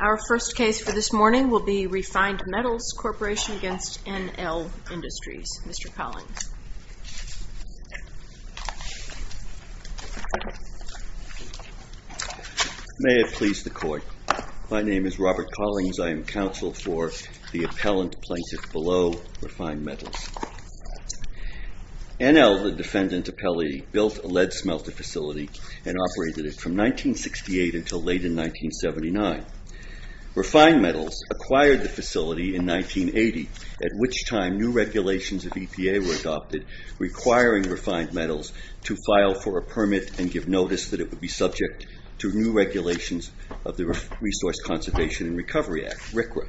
Our first case for this morning will be Refined Metals Corporation v. NL Industries. Mr. Collings. May it please the Court. My name is Robert Collings. I am counsel for the appellant plaintiff below Refined Metals. NL, the defendant appellee, built a lead smelter facility and operated it from 1968 until late in 1979. Refined Metals acquired the facility in 1980, at which time new regulations of EPA were adopted requiring Refined Metals to file for a permit and give notice that it would be subject to new regulations of the Resource Conservation and Recovery Act, RCRA.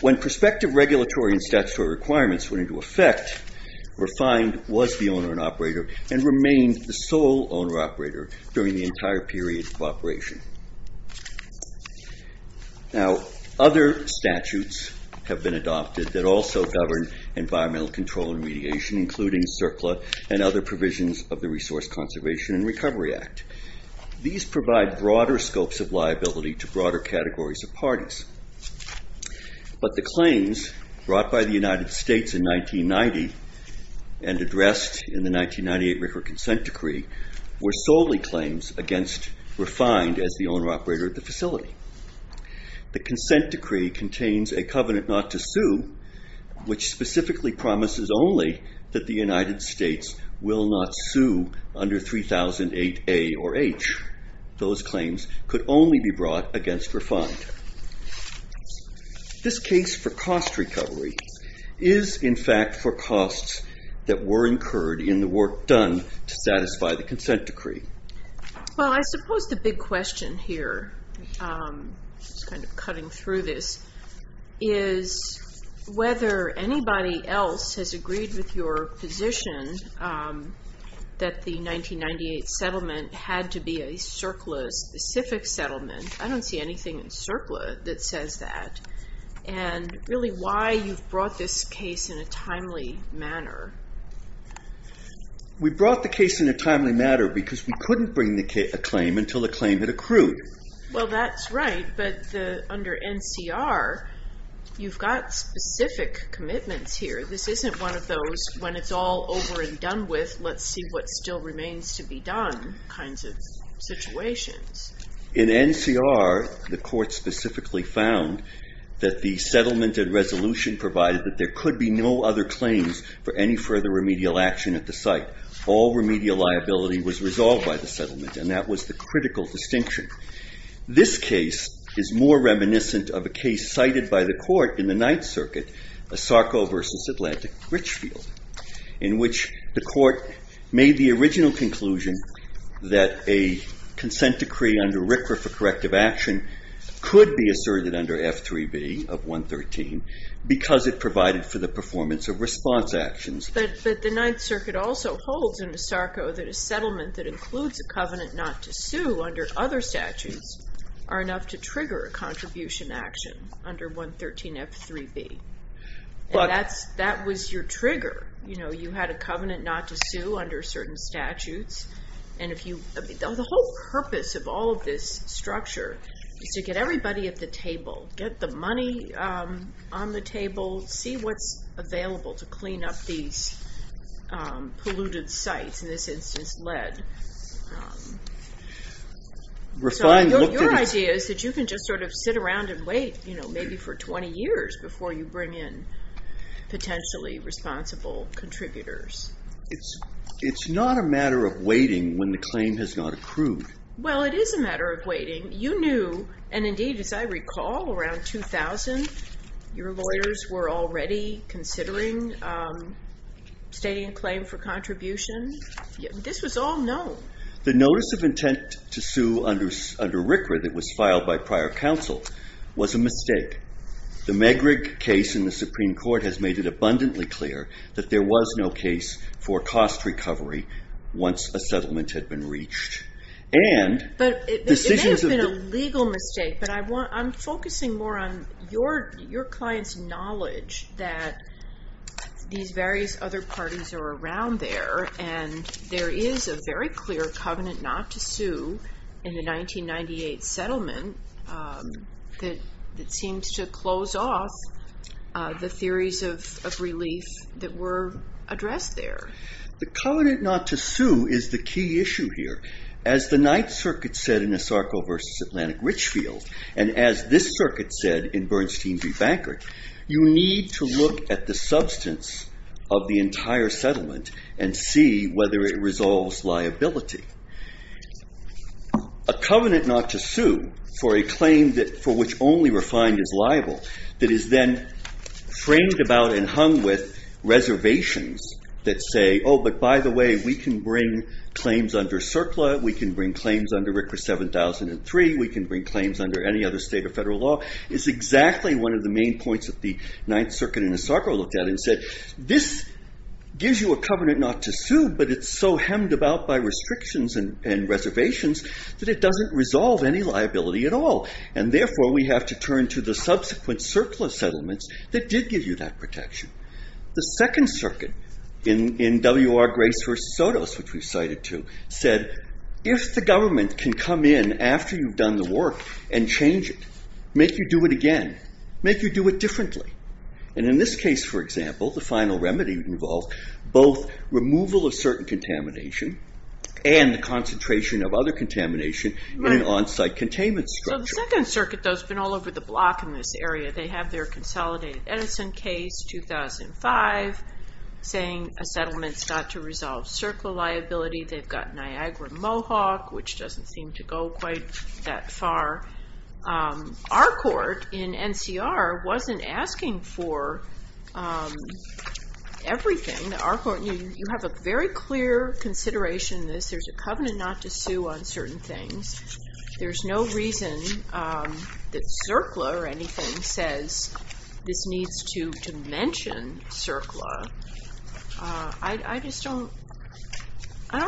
When prospective regulatory and statutory requirements went into effect, Refined was the owner and operator and remained the sole owner-operator during the entire period of operation. Other statutes have been adopted that also govern environmental control and remediation, including CERCLA and other provisions of the Resource Conservation and Recovery Act. These provide broader scopes of liability to broader categories of parties. But the claims brought by the United States in 1990 and addressed in the 1998 RCRA consent decree were solely claims against Refined as the owner-operator of the facility. The consent decree contains a covenant not to sue, which specifically promises only that the United States will not sue under 3008A or H. Those claims could only be brought against Refined. This case for cost recovery is, in fact, for costs that were incurred in the work done to satisfy the consent decree. Well, I suppose the big question here is whether anybody else has agreed with your position that the 1998 settlement had to be a CERCLA-specific settlement. I don't see anything in CERCLA that says that, and really why you've brought this case in a timely manner. We brought the case in a timely manner because we couldn't bring a claim until the claim had accrued. Well, that's right, but under NCR, you've got specific commitments here. This isn't one of those, when it's all over and done with, let's see what still remains to be done kinds of situations. In NCR, the court specifically found that the settlement and resolution provided that there could be no other claims for any further remedial action at the site. All remedial liability was resolved by the settlement, and that was the critical distinction. This case is more reminiscent of a case cited by the court in the Ninth Circuit, Asarco v. Atlantic Richfield, in which the court made the original conclusion that a consent decree under RCRA for corrective action could be asserted under F3B of 113 because it provided for the performance of response actions. But the Ninth Circuit also holds in Asarco that a settlement that includes a covenant not to sue under other statutes are enough to trigger a contribution action under 113 F3B. That was your trigger. You had a covenant not to sue under certain statutes. The whole purpose of all of this structure is to get everybody at the table, get the money on the table, see what's available to clean up these polluted sites, in this instance lead. Your idea is that you can just sit around and wait maybe for 20 years before you bring in potentially responsible contributors. It's not a matter of waiting when the claim has not accrued. Well, it is a matter of waiting. You knew, and indeed as I recall, around 2000 your lawyers were already considering stating a claim for contribution. This was all known. The notice of intent to sue under RCRA that was filed by prior counsel was a mistake. The Megrig case in the Supreme Court has made it abundantly clear that there was no case for cost recovery once a settlement had been reached. It may have been a legal mistake, but I'm focusing more on your client's knowledge that these various other parties are around there. There is a very clear covenant not to sue in the 1998 settlement that seems to close off the theories of relief that were addressed there. The covenant not to sue is the key issue here. As the Ninth Circuit said in Asarco v. Atlantic Richfield, and as this circuit said in Bernstein v. Bankert, you need to look at the substance of the entire settlement and see whether it resolves liability. A covenant not to sue for a claim for which only refined is liable that is then framed about and hung with reservations that say, oh, but by the way, we can bring claims under CERCLA. We can bring claims under RCRA 7003. We can bring claims under any other state or federal law. It's exactly one of the main points that the Ninth Circuit in Asarco looked at and said, this gives you a covenant not to sue, but it's so hemmed about by restrictions and reservations that it doesn't resolve any liability at all. And therefore, we have to turn to the subsequent CERCLA settlements that did give you that protection. The Second Circuit in W.R. Grace v. Sotos, which we've cited too, said, if the government can come in after you've done the work and change it, make you do it again, make you do it differently. And in this case, for example, the final remedy involved both removal of certain contamination and the concentration of other contamination in an on-site containment structure. So the Second Circuit, though, has been all over the block in this area. They have their consolidated Edison case, 2005, saying a settlement's got to resolve CERCLA liability. They've got Niagara-Mohawk, which doesn't seem to go quite that far. Our court in NCR wasn't asking for everything. You have a very clear consideration in this. There's a covenant not to sue on certain things. There's no reason that CERCLA or anything says this needs to mention CERCLA. I just don't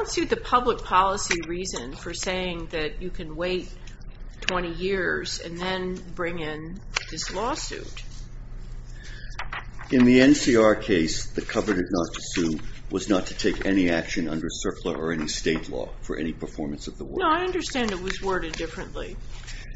see the public policy reason for saying that you can wait 20 years and then bring in this lawsuit. In the NCR case, the covenant not to sue was not to take any action under CERCLA or any state law for any performance of the work. No, I understand it was worded differently.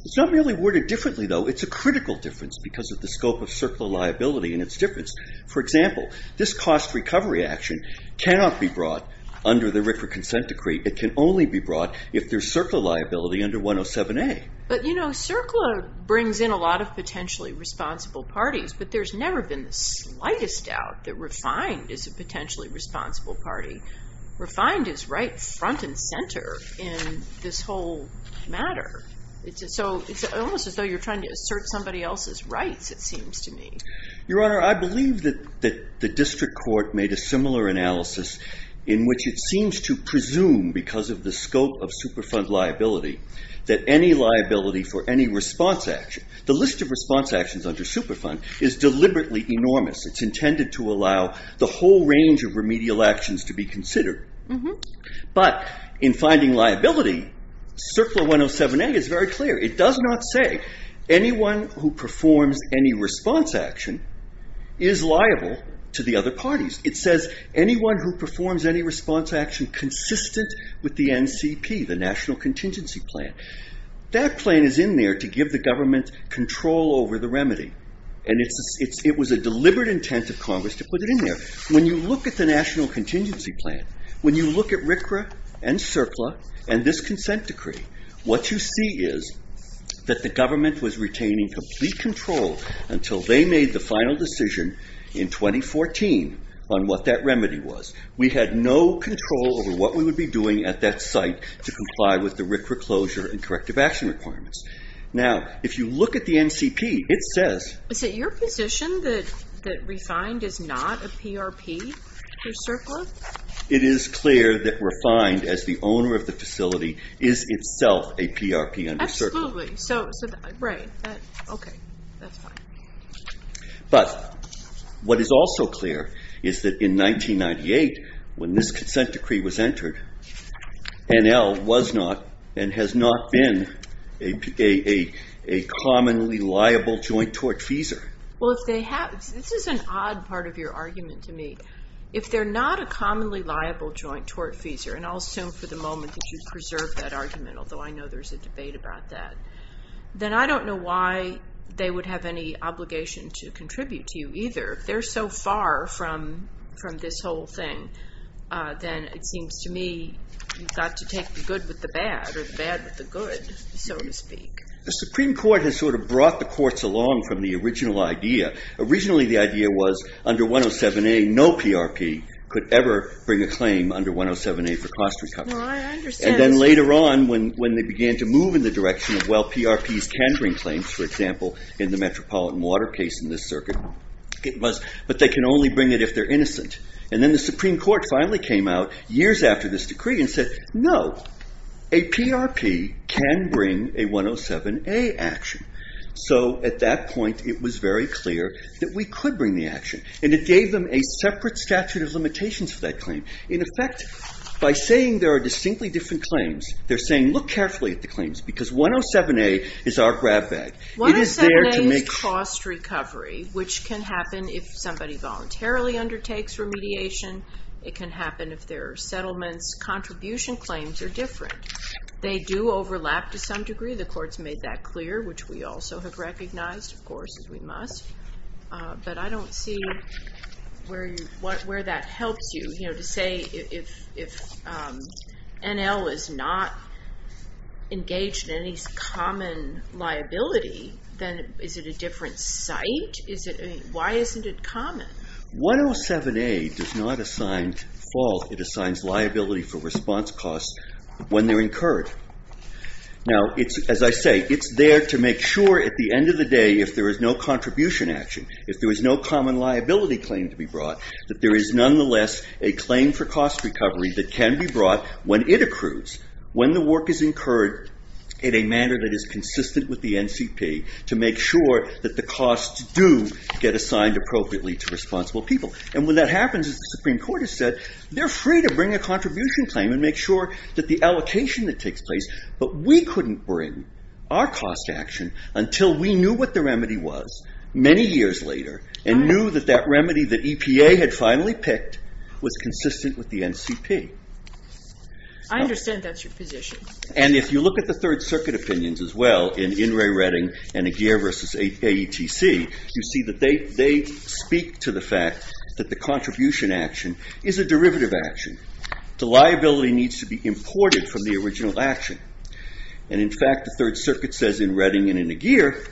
It's not really worded differently, though. It's a critical difference because of the scope of CERCLA liability and its difference. For example, this cost recovery action cannot be brought under the RFRA consent decree. It can only be brought if there's CERCLA liability under 107A. But, you know, CERCLA brings in a lot of potentially responsible parties, but there's never been the slightest doubt that Refined is a potentially responsible party. Refined is right front and center in this whole matter. So it's almost as though you're trying to assert somebody else's rights, it seems to me. Your Honor, I believe that the district court made a similar analysis in which it seems to presume, because of the scope of Superfund liability, that any liability for any response action, the list of response actions under Superfund is deliberately enormous. It's intended to allow the whole range of remedial actions to be considered. But in finding liability, CERCLA 107A is very clear. It does not say anyone who performs any response action is liable to the other parties. It says anyone who performs any response action consistent with the NCP, the National Contingency Plan. That plan is in there to give the government control over the remedy. And it was a deliberate intent of Congress to put it in there. When you look at the National Contingency Plan, when you look at RCRA and CERCLA and this consent decree, what you see is that the government was retaining complete control until they made the final decision in 2014 on what that remedy was. We had no control over what we would be doing at that site to comply with the RCRA closure and corrective action requirements. Now, if you look at the NCP, it says- Is it your position that REFIND is not a PRP for CERCLA? It is clear that REFIND, as the owner of the facility, is itself a PRP under CERCLA. Absolutely. Right. Okay. That's fine. But what is also clear is that in 1998, when this consent decree was entered, NL was not and has not been a commonly liable joint tortfeasor. Well, this is an odd part of your argument to me. If they're not a commonly liable joint tortfeasor, and I'll assume for the moment that you've preserved that argument, although I know there's a debate about that, then I don't know why they would have any obligation to contribute to you either. If they're so far from this whole thing, then it seems to me you've got to take the good with the bad, or the bad with the good, so to speak. The Supreme Court has sort of brought the courts along from the original idea. Originally, the idea was under 107A, no PRP could ever bring a claim under 107A for cost recovery. Well, I understand. And then later on, when they began to move in the direction of, well, PRP's tendering claims, for example, in the Metropolitan Water case in this circuit, but they can only bring it if they're innocent. And then the Supreme Court finally came out years after this decree and said, no, a PRP can bring a 107A action. So at that point, it was very clear that we could bring the action. And it gave them a separate statute of limitations for that claim. In effect, by saying there are distinctly different claims, they're saying, look carefully at the claims, because 107A is our grab bag. 107A is cost recovery, which can happen if somebody voluntarily undertakes remediation. It can happen if their settlement's contribution claims are different. They do overlap to some degree. The courts made that clear, which we also have recognized, of course, as we must. But I don't see where that helps you. To say if NL is not engaged in any common liability, then is it a different site? Why isn't it common? 107A does not assign fault. It assigns liability for response costs when they're incurred. Now, as I say, it's there to make sure at the end of the day, if there is no contribution action, if there is no common liability claim to be brought, that there is nonetheless a claim for cost recovery that can be brought when it accrues, when the work is incurred in a manner that is consistent with the NCP, to make sure that the costs do get assigned appropriately to responsible people. And when that happens, as the Supreme Court has said, they're free to bring a contribution claim and make sure that the allocation that takes place, but we couldn't bring our cost action until we knew what the remedy was many years later and knew that that remedy that EPA had finally picked was consistent with the NCP. I understand that's your position. And if you look at the Third Circuit opinions as well in In re Redding and Aguirre v. AETC, you see that they speak to the fact that the contribution action is a derivative action. The liability needs to be imported from the original action. And in fact, the Third Circuit says in Redding and in Aguirre,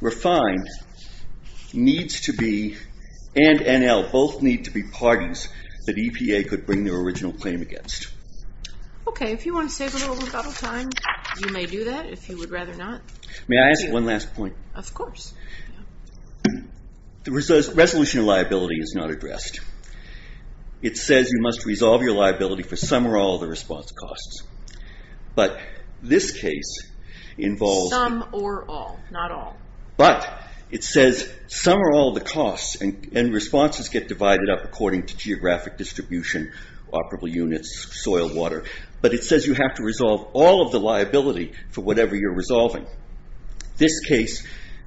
refined needs to be, and NL, both need to be parties that EPA could bring their original claim against. Okay, if you want to save a little rebuttal time, you may do that, if you would rather not. May I ask one last point? Of course. The resolution of liability is not addressed. It says you must resolve your liability for some or all of the response costs. But this case involves... Some or all, not all. But it says some or all of the costs and responses get divided up according to geographic distribution, operable units, soil, water. But it says you have to resolve all of the liability for whatever you're resolving. This case,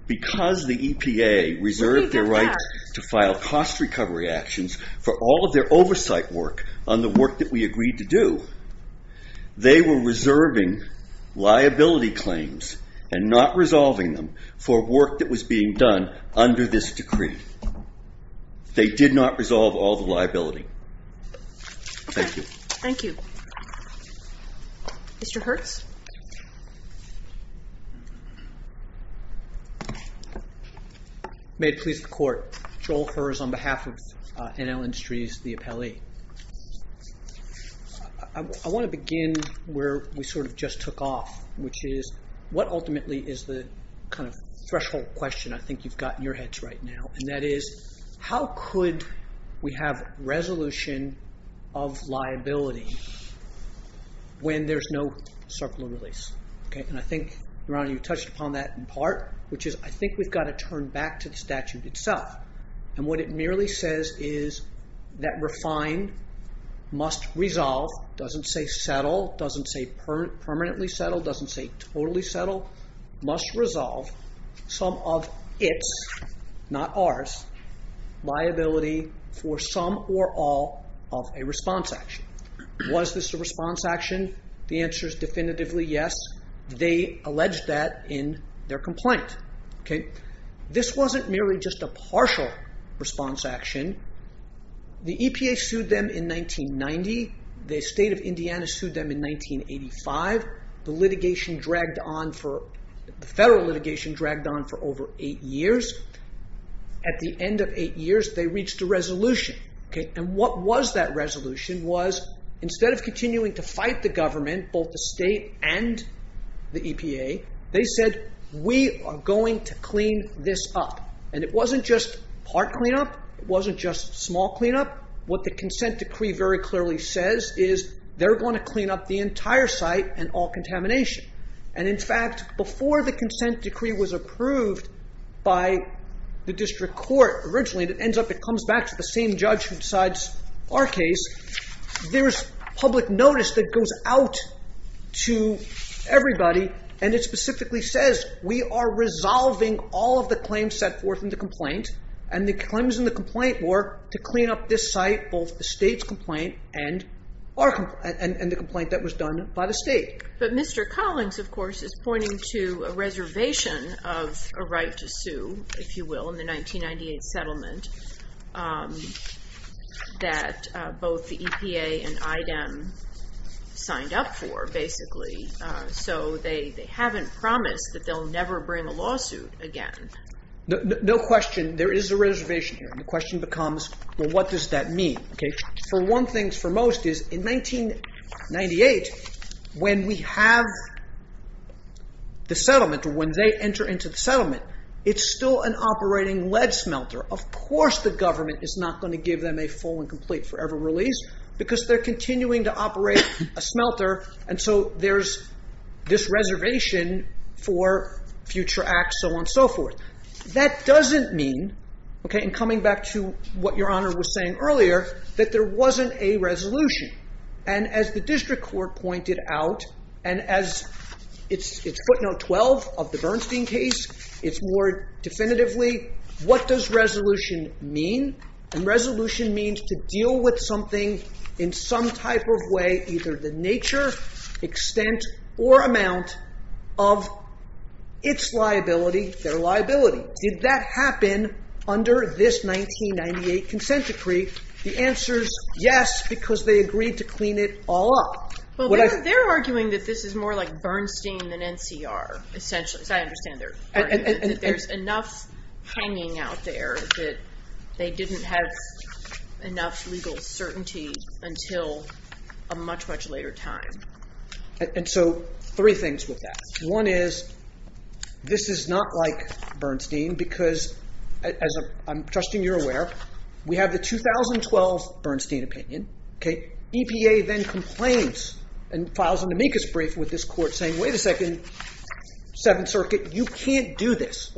because the EPA reserved their right to file cost recovery actions for all of their oversight work on the work that we agreed to do, they were reserving liability claims and not resolving them for work that was being done under this decree. They did not resolve all the liability. Thank you. Okay, thank you. Mr. Hertz? May it please the Court. Joel Herz on behalf of NL Industries, the appellee. I want to begin where we sort of just took off, which is what ultimately is the kind of threshold question I think you've got in your heads right now, and that is how could we have resolution of liability when there's no circular release? And I think, Your Honor, you touched upon that in part, which is I think we've got to turn back to the statute itself. And what it merely says is that refined must resolve, doesn't say settle, doesn't say permanently settle, doesn't say totally settle, must resolve some of its, not ours, liability for some or all of a response action. Was this a response action? The answer is definitively yes. They alleged that in their complaint. This wasn't merely just a partial response action. The EPA sued them in 1990. The state of Indiana sued them in 1985. The litigation dragged on for, the federal litigation dragged on for over eight years. At the end of eight years, they reached a resolution. And what was that resolution was instead of continuing to fight the government, both the state and the EPA, they said we are going to clean this up. And it wasn't just part cleanup. It wasn't just small cleanup. What the consent decree very clearly says is they're going to clean up the entire site and all contamination. And, in fact, before the consent decree was approved by the district court originally, it ends up it comes back to the same judge who decides our case. There's public notice that goes out to everybody, and it specifically says we are resolving all of the claims set forth in the complaint, and the claims in the complaint were to clean up this site, both the state's complaint and the complaint that was done by the state. But Mr. Collins, of course, is pointing to a reservation of a right to sue, if you will, in the 1998 settlement that both the EPA and IDEM signed up for, basically. So they haven't promised that they'll never bring a lawsuit again. No question there is a reservation here. The question becomes, well, what does that mean? For one thing, for most, is in 1998, when we have the settlement, when they enter into the settlement, it's still an operating lead smelter. Of course the government is not going to give them a full and complete forever release because they're continuing to operate a smelter, and so there's this reservation for future acts, so on and so forth. That doesn't mean, in coming back to what Your Honor was saying earlier, that there wasn't a resolution. And as the district court pointed out, and as it's footnote 12 of the Bernstein case, it's more definitively, what does resolution mean? And resolution means to deal with something in some type of way, either the nature, extent, or amount of its liability, their liability. Did that happen under this 1998 consent decree? The answer is yes, because they agreed to clean it all up. Well, they're arguing that this is more like Bernstein than NCR, essentially. I understand they're arguing that there's enough hanging out there that they didn't have enough legal certainty until a much, much later time. And so three things with that. One is this is not like Bernstein because, as I'm trusting you're aware, we have the 2012 Bernstein opinion. EPA then complains and files an amicus brief with this court saying, wait a second, Seventh Circuit, you can't do this.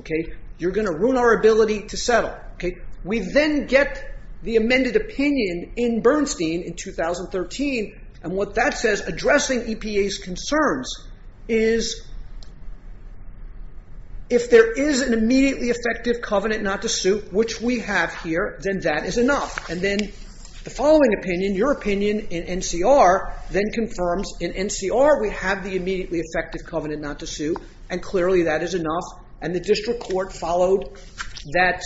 You're going to ruin our ability to settle. We then get the amended opinion in Bernstein in 2013, and what that says addressing EPA's concerns is if there is an immediately effective covenant not to suit, which we have here, then that is enough. And then the following opinion, your opinion in NCR, then confirms in NCR we have the immediately effective covenant not to sue, and clearly that is enough. And the district court followed that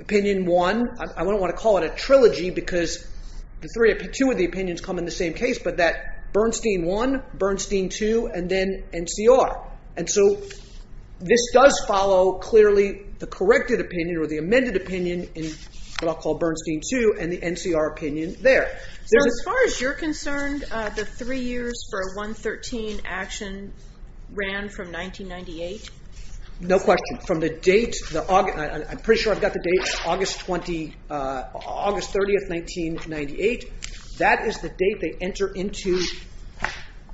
opinion one. I don't want to call it a trilogy because two of the opinions come in the same case, but that Bernstein one, Bernstein two, and then NCR. And so this does follow clearly the corrected opinion or the amended opinion in what I'll call Bernstein two and the NCR opinion there. So as far as you're concerned, the three years for a 113 action ran from 1998? No question. From the date, I'm pretty sure I've got the date, August 30, 1998. That is the date they enter into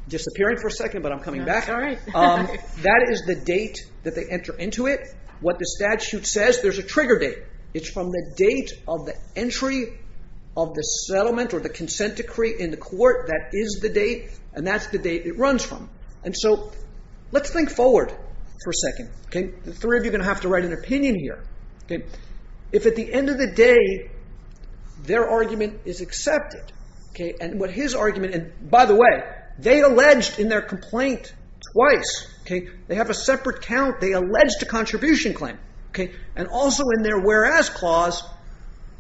disappearing for a second, but I'm coming back. That is the date that they enter into it. What the statute says, there's a trigger date. It's from the date of the entry of the settlement or the consent decree in the court. That is the date, and that's the date it runs from. And so let's think forward for a second. The three of you are going to have to write an opinion here. If at the end of the day their argument is accepted, and what his argument, and by the way, they alleged in their complaint twice. They have a separate count. They alleged a contribution claim. And also in their whereas clause,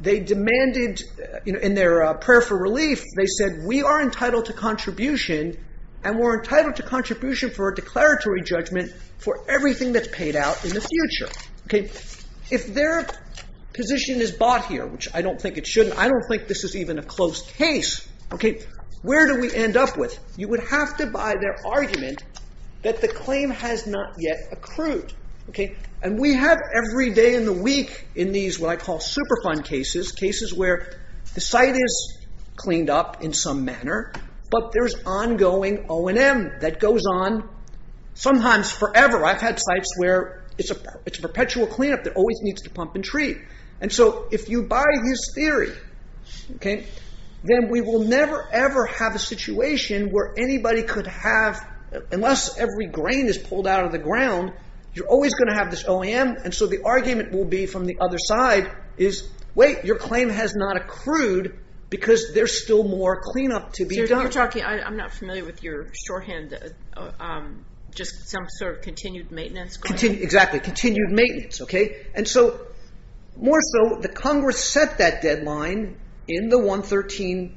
they demanded in their prayer for relief, they said we are entitled to contribution and we're entitled to contribution for a declaratory judgment for everything that's paid out in the future. If their position is bought here, which I don't think it should, I don't think this is even a close case, where do we end up with? You would have to buy their argument that the claim has not yet accrued. And we have every day in the week in these what I call superfund cases, cases where the site is cleaned up in some manner, but there's ongoing O&M that goes on sometimes forever. I've had sites where it's a perpetual cleanup that always needs to pump and treat. And so if you buy this theory, then we will never ever have a situation where anybody could have, unless every grain is pulled out of the ground, you're always going to have this O&M. And so the argument will be from the other side is wait, your claim has not accrued because there's still more cleanup to be done. You're talking, I'm not familiar with your shorthand, just some sort of continued maintenance claim. Exactly, continued maintenance. And so more so, the Congress set that deadline in the 113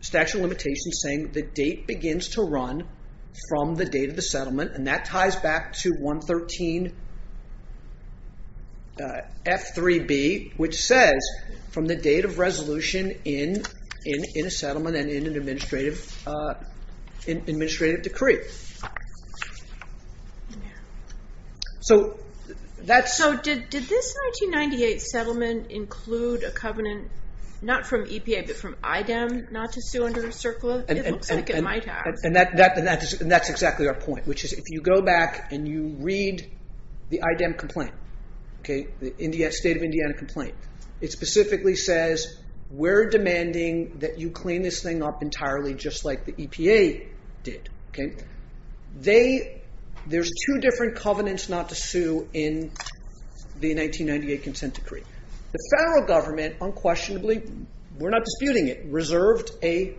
statute of limitations saying the date begins to run from the date of the settlement, and that ties back to 113 F3B, which says from the date of resolution in a settlement and in an administrative decree. So did this 1998 settlement include a covenant, not from EPA, but from IDEM not to sue under CERCLA? It looks like it might have. And that's exactly our point, which is if you go back and you read the IDEM complaint, the State of Indiana complaint, it specifically says we're demanding that you clean this thing up entirely just like the EPA did. There's two different covenants not to sue in the 1998 consent decree. The federal government unquestionably, we're not disputing it, reserved a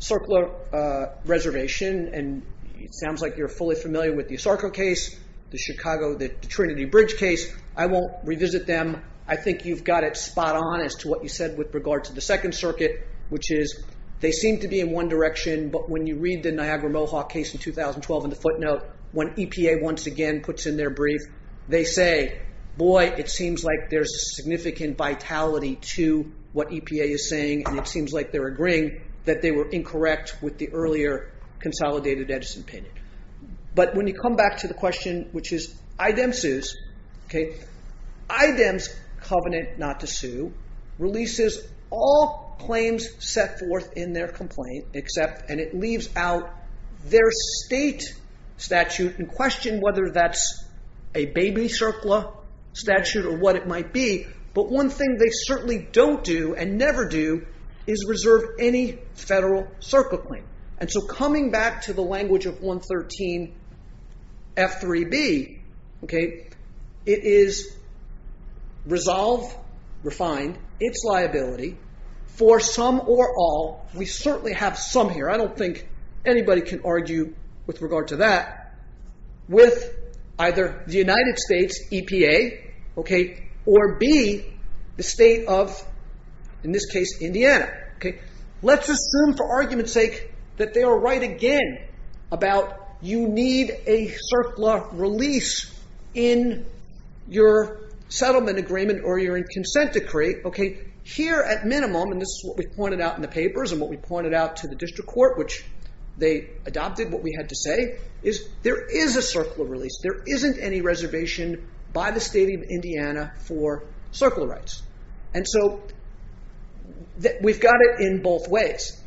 CERCLA reservation, and it sounds like you're fully familiar with the Asarco case, the Chicago, the Trinity Bridge case. I won't revisit them. I think you've got it spot on as to what you said with regard to the Second Circuit, which is they seem to be in one direction, but when you read the Niagara Mohawk case in 2012 in the footnote, when EPA once again puts in their brief, they say, boy, it seems like there's a significant vitality to what EPA is saying, and it seems like they're agreeing that they were incorrect with the earlier consolidated Edison opinion. But when you come back to the question, which is IDEM sues, IDEM's covenant not to sue releases all claims set forth in their complaint except, and it leaves out their state statute, and question whether that's a baby CERCLA statute or what it might be, but one thing they certainly don't do and never do is reserve any federal CERCLA claim. And so coming back to the language of 113 F3B, it is resolve, refined, its liability for some or all, we certainly have some here, I don't think anybody can argue with regard to that, with either the United States, EPA, or B, the state of, in this case, Indiana. Let's assume for argument's sake that they are right again about you need a CERCLA release in your settlement agreement or your consent decree. Here at minimum, and this is what we pointed out in the papers and what we pointed out to the district court, which they adopted what we had to say, is there is a CERCLA release. There isn't any reservation by the state of Indiana for CERCLA rights. And so we've got it in both ways.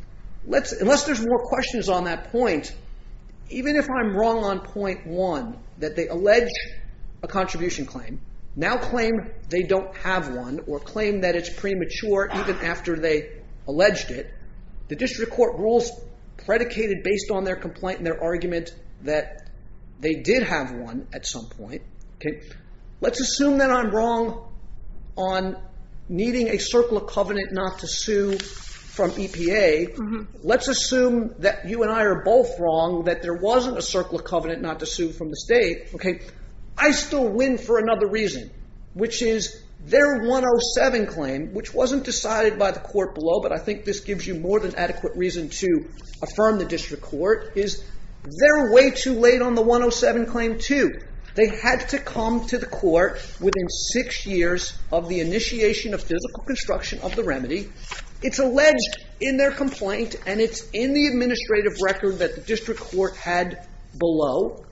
Unless there's more questions on that point, even if I'm wrong on point one that they allege a contribution claim, now claim they don't have one or claim that it's premature even after they alleged it, the district court rules predicated based on their complaint and their argument that they did have one at some point. Let's assume that I'm wrong on needing a CERCLA covenant not to sue from EPA. Let's assume that you and I are both wrong, that there wasn't a CERCLA covenant not to sue from the state. I still win for another reason, which is their 107 claim, which wasn't decided by the court below, but I think this gives you more than adequate reason to affirm the district court, is they're way too late on the 107 claim too. They had to come to the court within six years of the initiation of physical construction of the remedy. It's alleged in their complaint, and it's in the administrative record that the district court had below,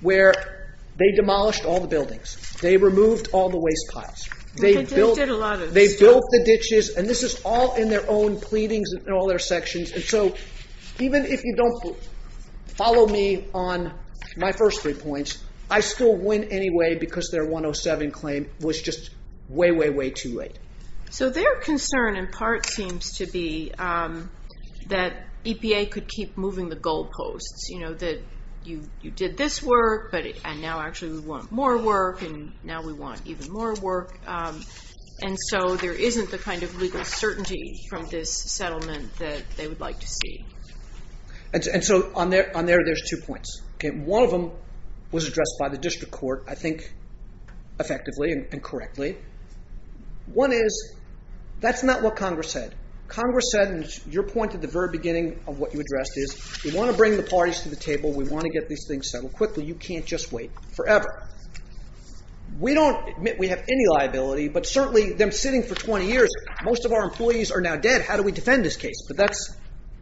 where they demolished all the buildings. They removed all the waste piles. They built the ditches, and this is all in their own pleadings and all their sections. So even if you don't follow me on my first three points, I still win anyway because their 107 claim was just way, way, way too late. So their concern in part seems to be that EPA could keep moving the goalposts, that you did this work, and now actually we want more work, and now we want even more work. And so there isn't the kind of legal certainty from this settlement that they would like to see. And so on there, there's two points. One of them was addressed by the district court, I think, effectively and correctly. One is that's not what Congress said. Congress said, and your point at the very beginning of what you addressed is, we want to bring the parties to the table. We want to get these things settled quickly. You can't just wait forever. We don't admit we have any liability, but certainly them sitting for 20 years, most of our employees are now dead. How do we defend this case? But that's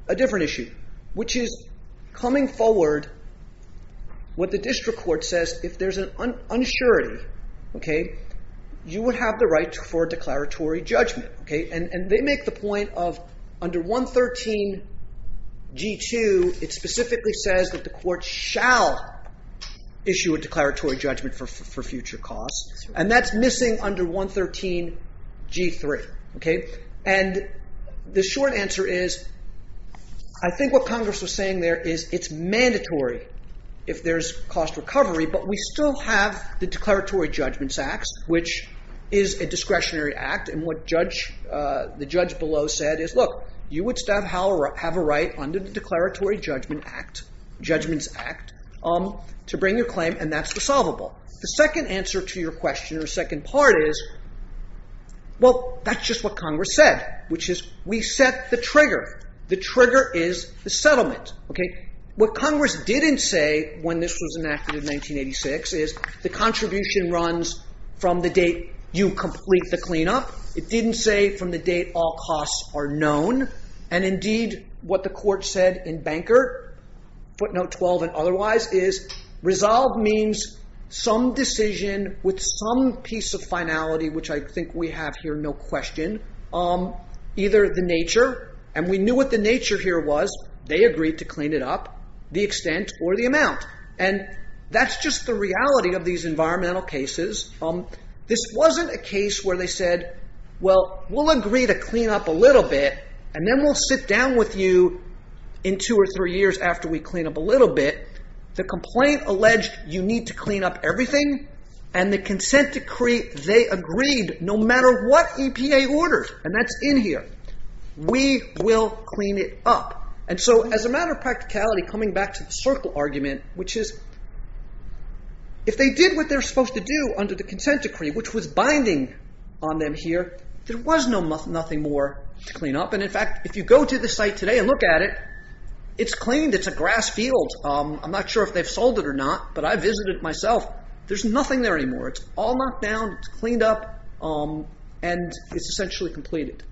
a different issue, which is coming forward, what the district court says, if there's an uncertainty, you would have the right for declaratory judgment. And they make the point of under 113 G2, it specifically says that the court shall issue a declaratory judgment for future costs, and that's missing under 113 G3. And the short answer is, I think what Congress was saying there is it's mandatory if there's cost recovery, but we still have the Declaratory Judgments Act, which is a discretionary act, and what the judge below said is, look, you would still have a right under the Declaratory Judgments Act to bring your claim, and that's the solvable. The second answer to your question or second part is, well, that's just what Congress said, which is we set the trigger. The trigger is the settlement. What Congress didn't say when this was enacted in 1986 is the contribution runs from the date you complete the cleanup. It didn't say from the date all costs are known. And, indeed, what the court said in Banker, footnote 12 and otherwise, is resolve means some decision with some piece of finality, which I think we have here, no question, either the nature, and we knew what the nature here was, they agreed to clean it up, the extent or the amount, and that's just the reality of these environmental cases. This wasn't a case where they said, well, we'll agree to clean up a little bit, and then we'll sit down with you in two or three years after we clean up a little bit. The complaint alleged you need to clean up everything, and the consent decree, they agreed no matter what EPA ordered, and that's in here. We will clean it up. And so as a matter of practicality, coming back to the circle argument, which is if they did what they're supposed to do under the consent decree, which was binding on them here, there was nothing more to clean up. And, in fact, if you go to the site today and look at it, it's cleaned. It's a grass field. I'm not sure if they've sold it or not, but I visited it myself. There's nothing there anymore. It's all knocked down. It's cleaned up, and it's essentially completed.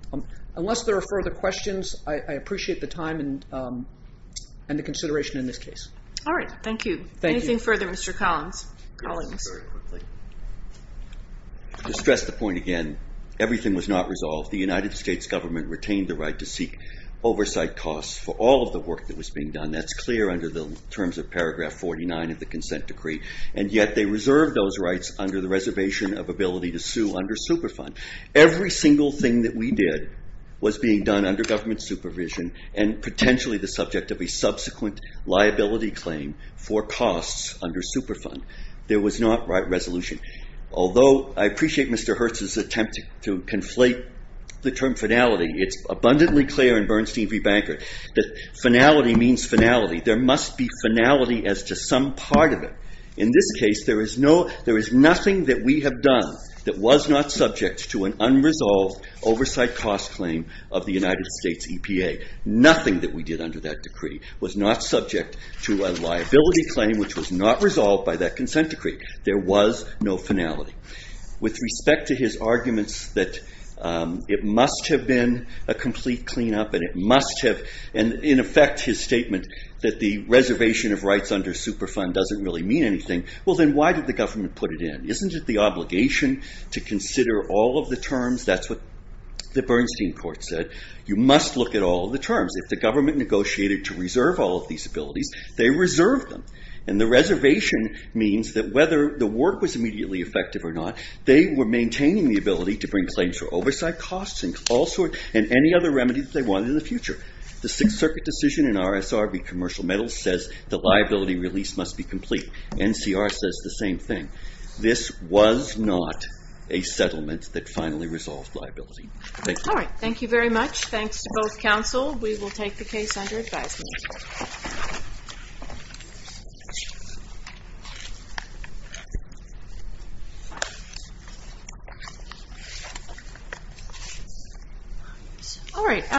Unless there are further questions, I appreciate the time and the consideration in this case. All right, thank you. Anything further, Mr. Collins? Just to stress the point again, everything was not resolved. The United States government retained the right to seek oversight costs for all of the work that was being done. That's clear under the terms of paragraph 49 of the consent decree, and yet they reserved those rights under the reservation of ability to sue under Superfund. Every single thing that we did was being done under government supervision and potentially the subject of a subsequent liability claim for costs under Superfund. There was not right resolution. Although I appreciate Mr. Hertz's attempt to conflate the term finality, it's abundantly clear in Bernstein v. Banker that finality means finality. There must be finality as to some part of it. In this case, there is nothing that we have done that was not subject to an unresolved oversight cost claim of the United States EPA. Nothing that we did under that decree was not subject to a liability claim which was not resolved by that consent decree. There was no finality. With respect to his arguments that it must have been a complete cleanup and in effect his statement that the reservation of rights under Superfund doesn't really mean anything, then why did the government put it in? Isn't it the obligation to consider all of the terms? That's what the Bernstein court said. You must look at all of the terms. If the government negotiated to reserve all of these abilities, they reserved them. The reservation means that whether the work was immediately effective or not, they were maintaining the ability to bring claims for oversight costs and any other remedy that they wanted in the future. The Sixth Circuit decision in RSRB Commercial Medals says the liability release must be complete. NCR says the same thing. This was not a settlement that finally resolved liability. Thank you. Thank you very much. Thanks to both counsel. We will take the case under advisement. All right.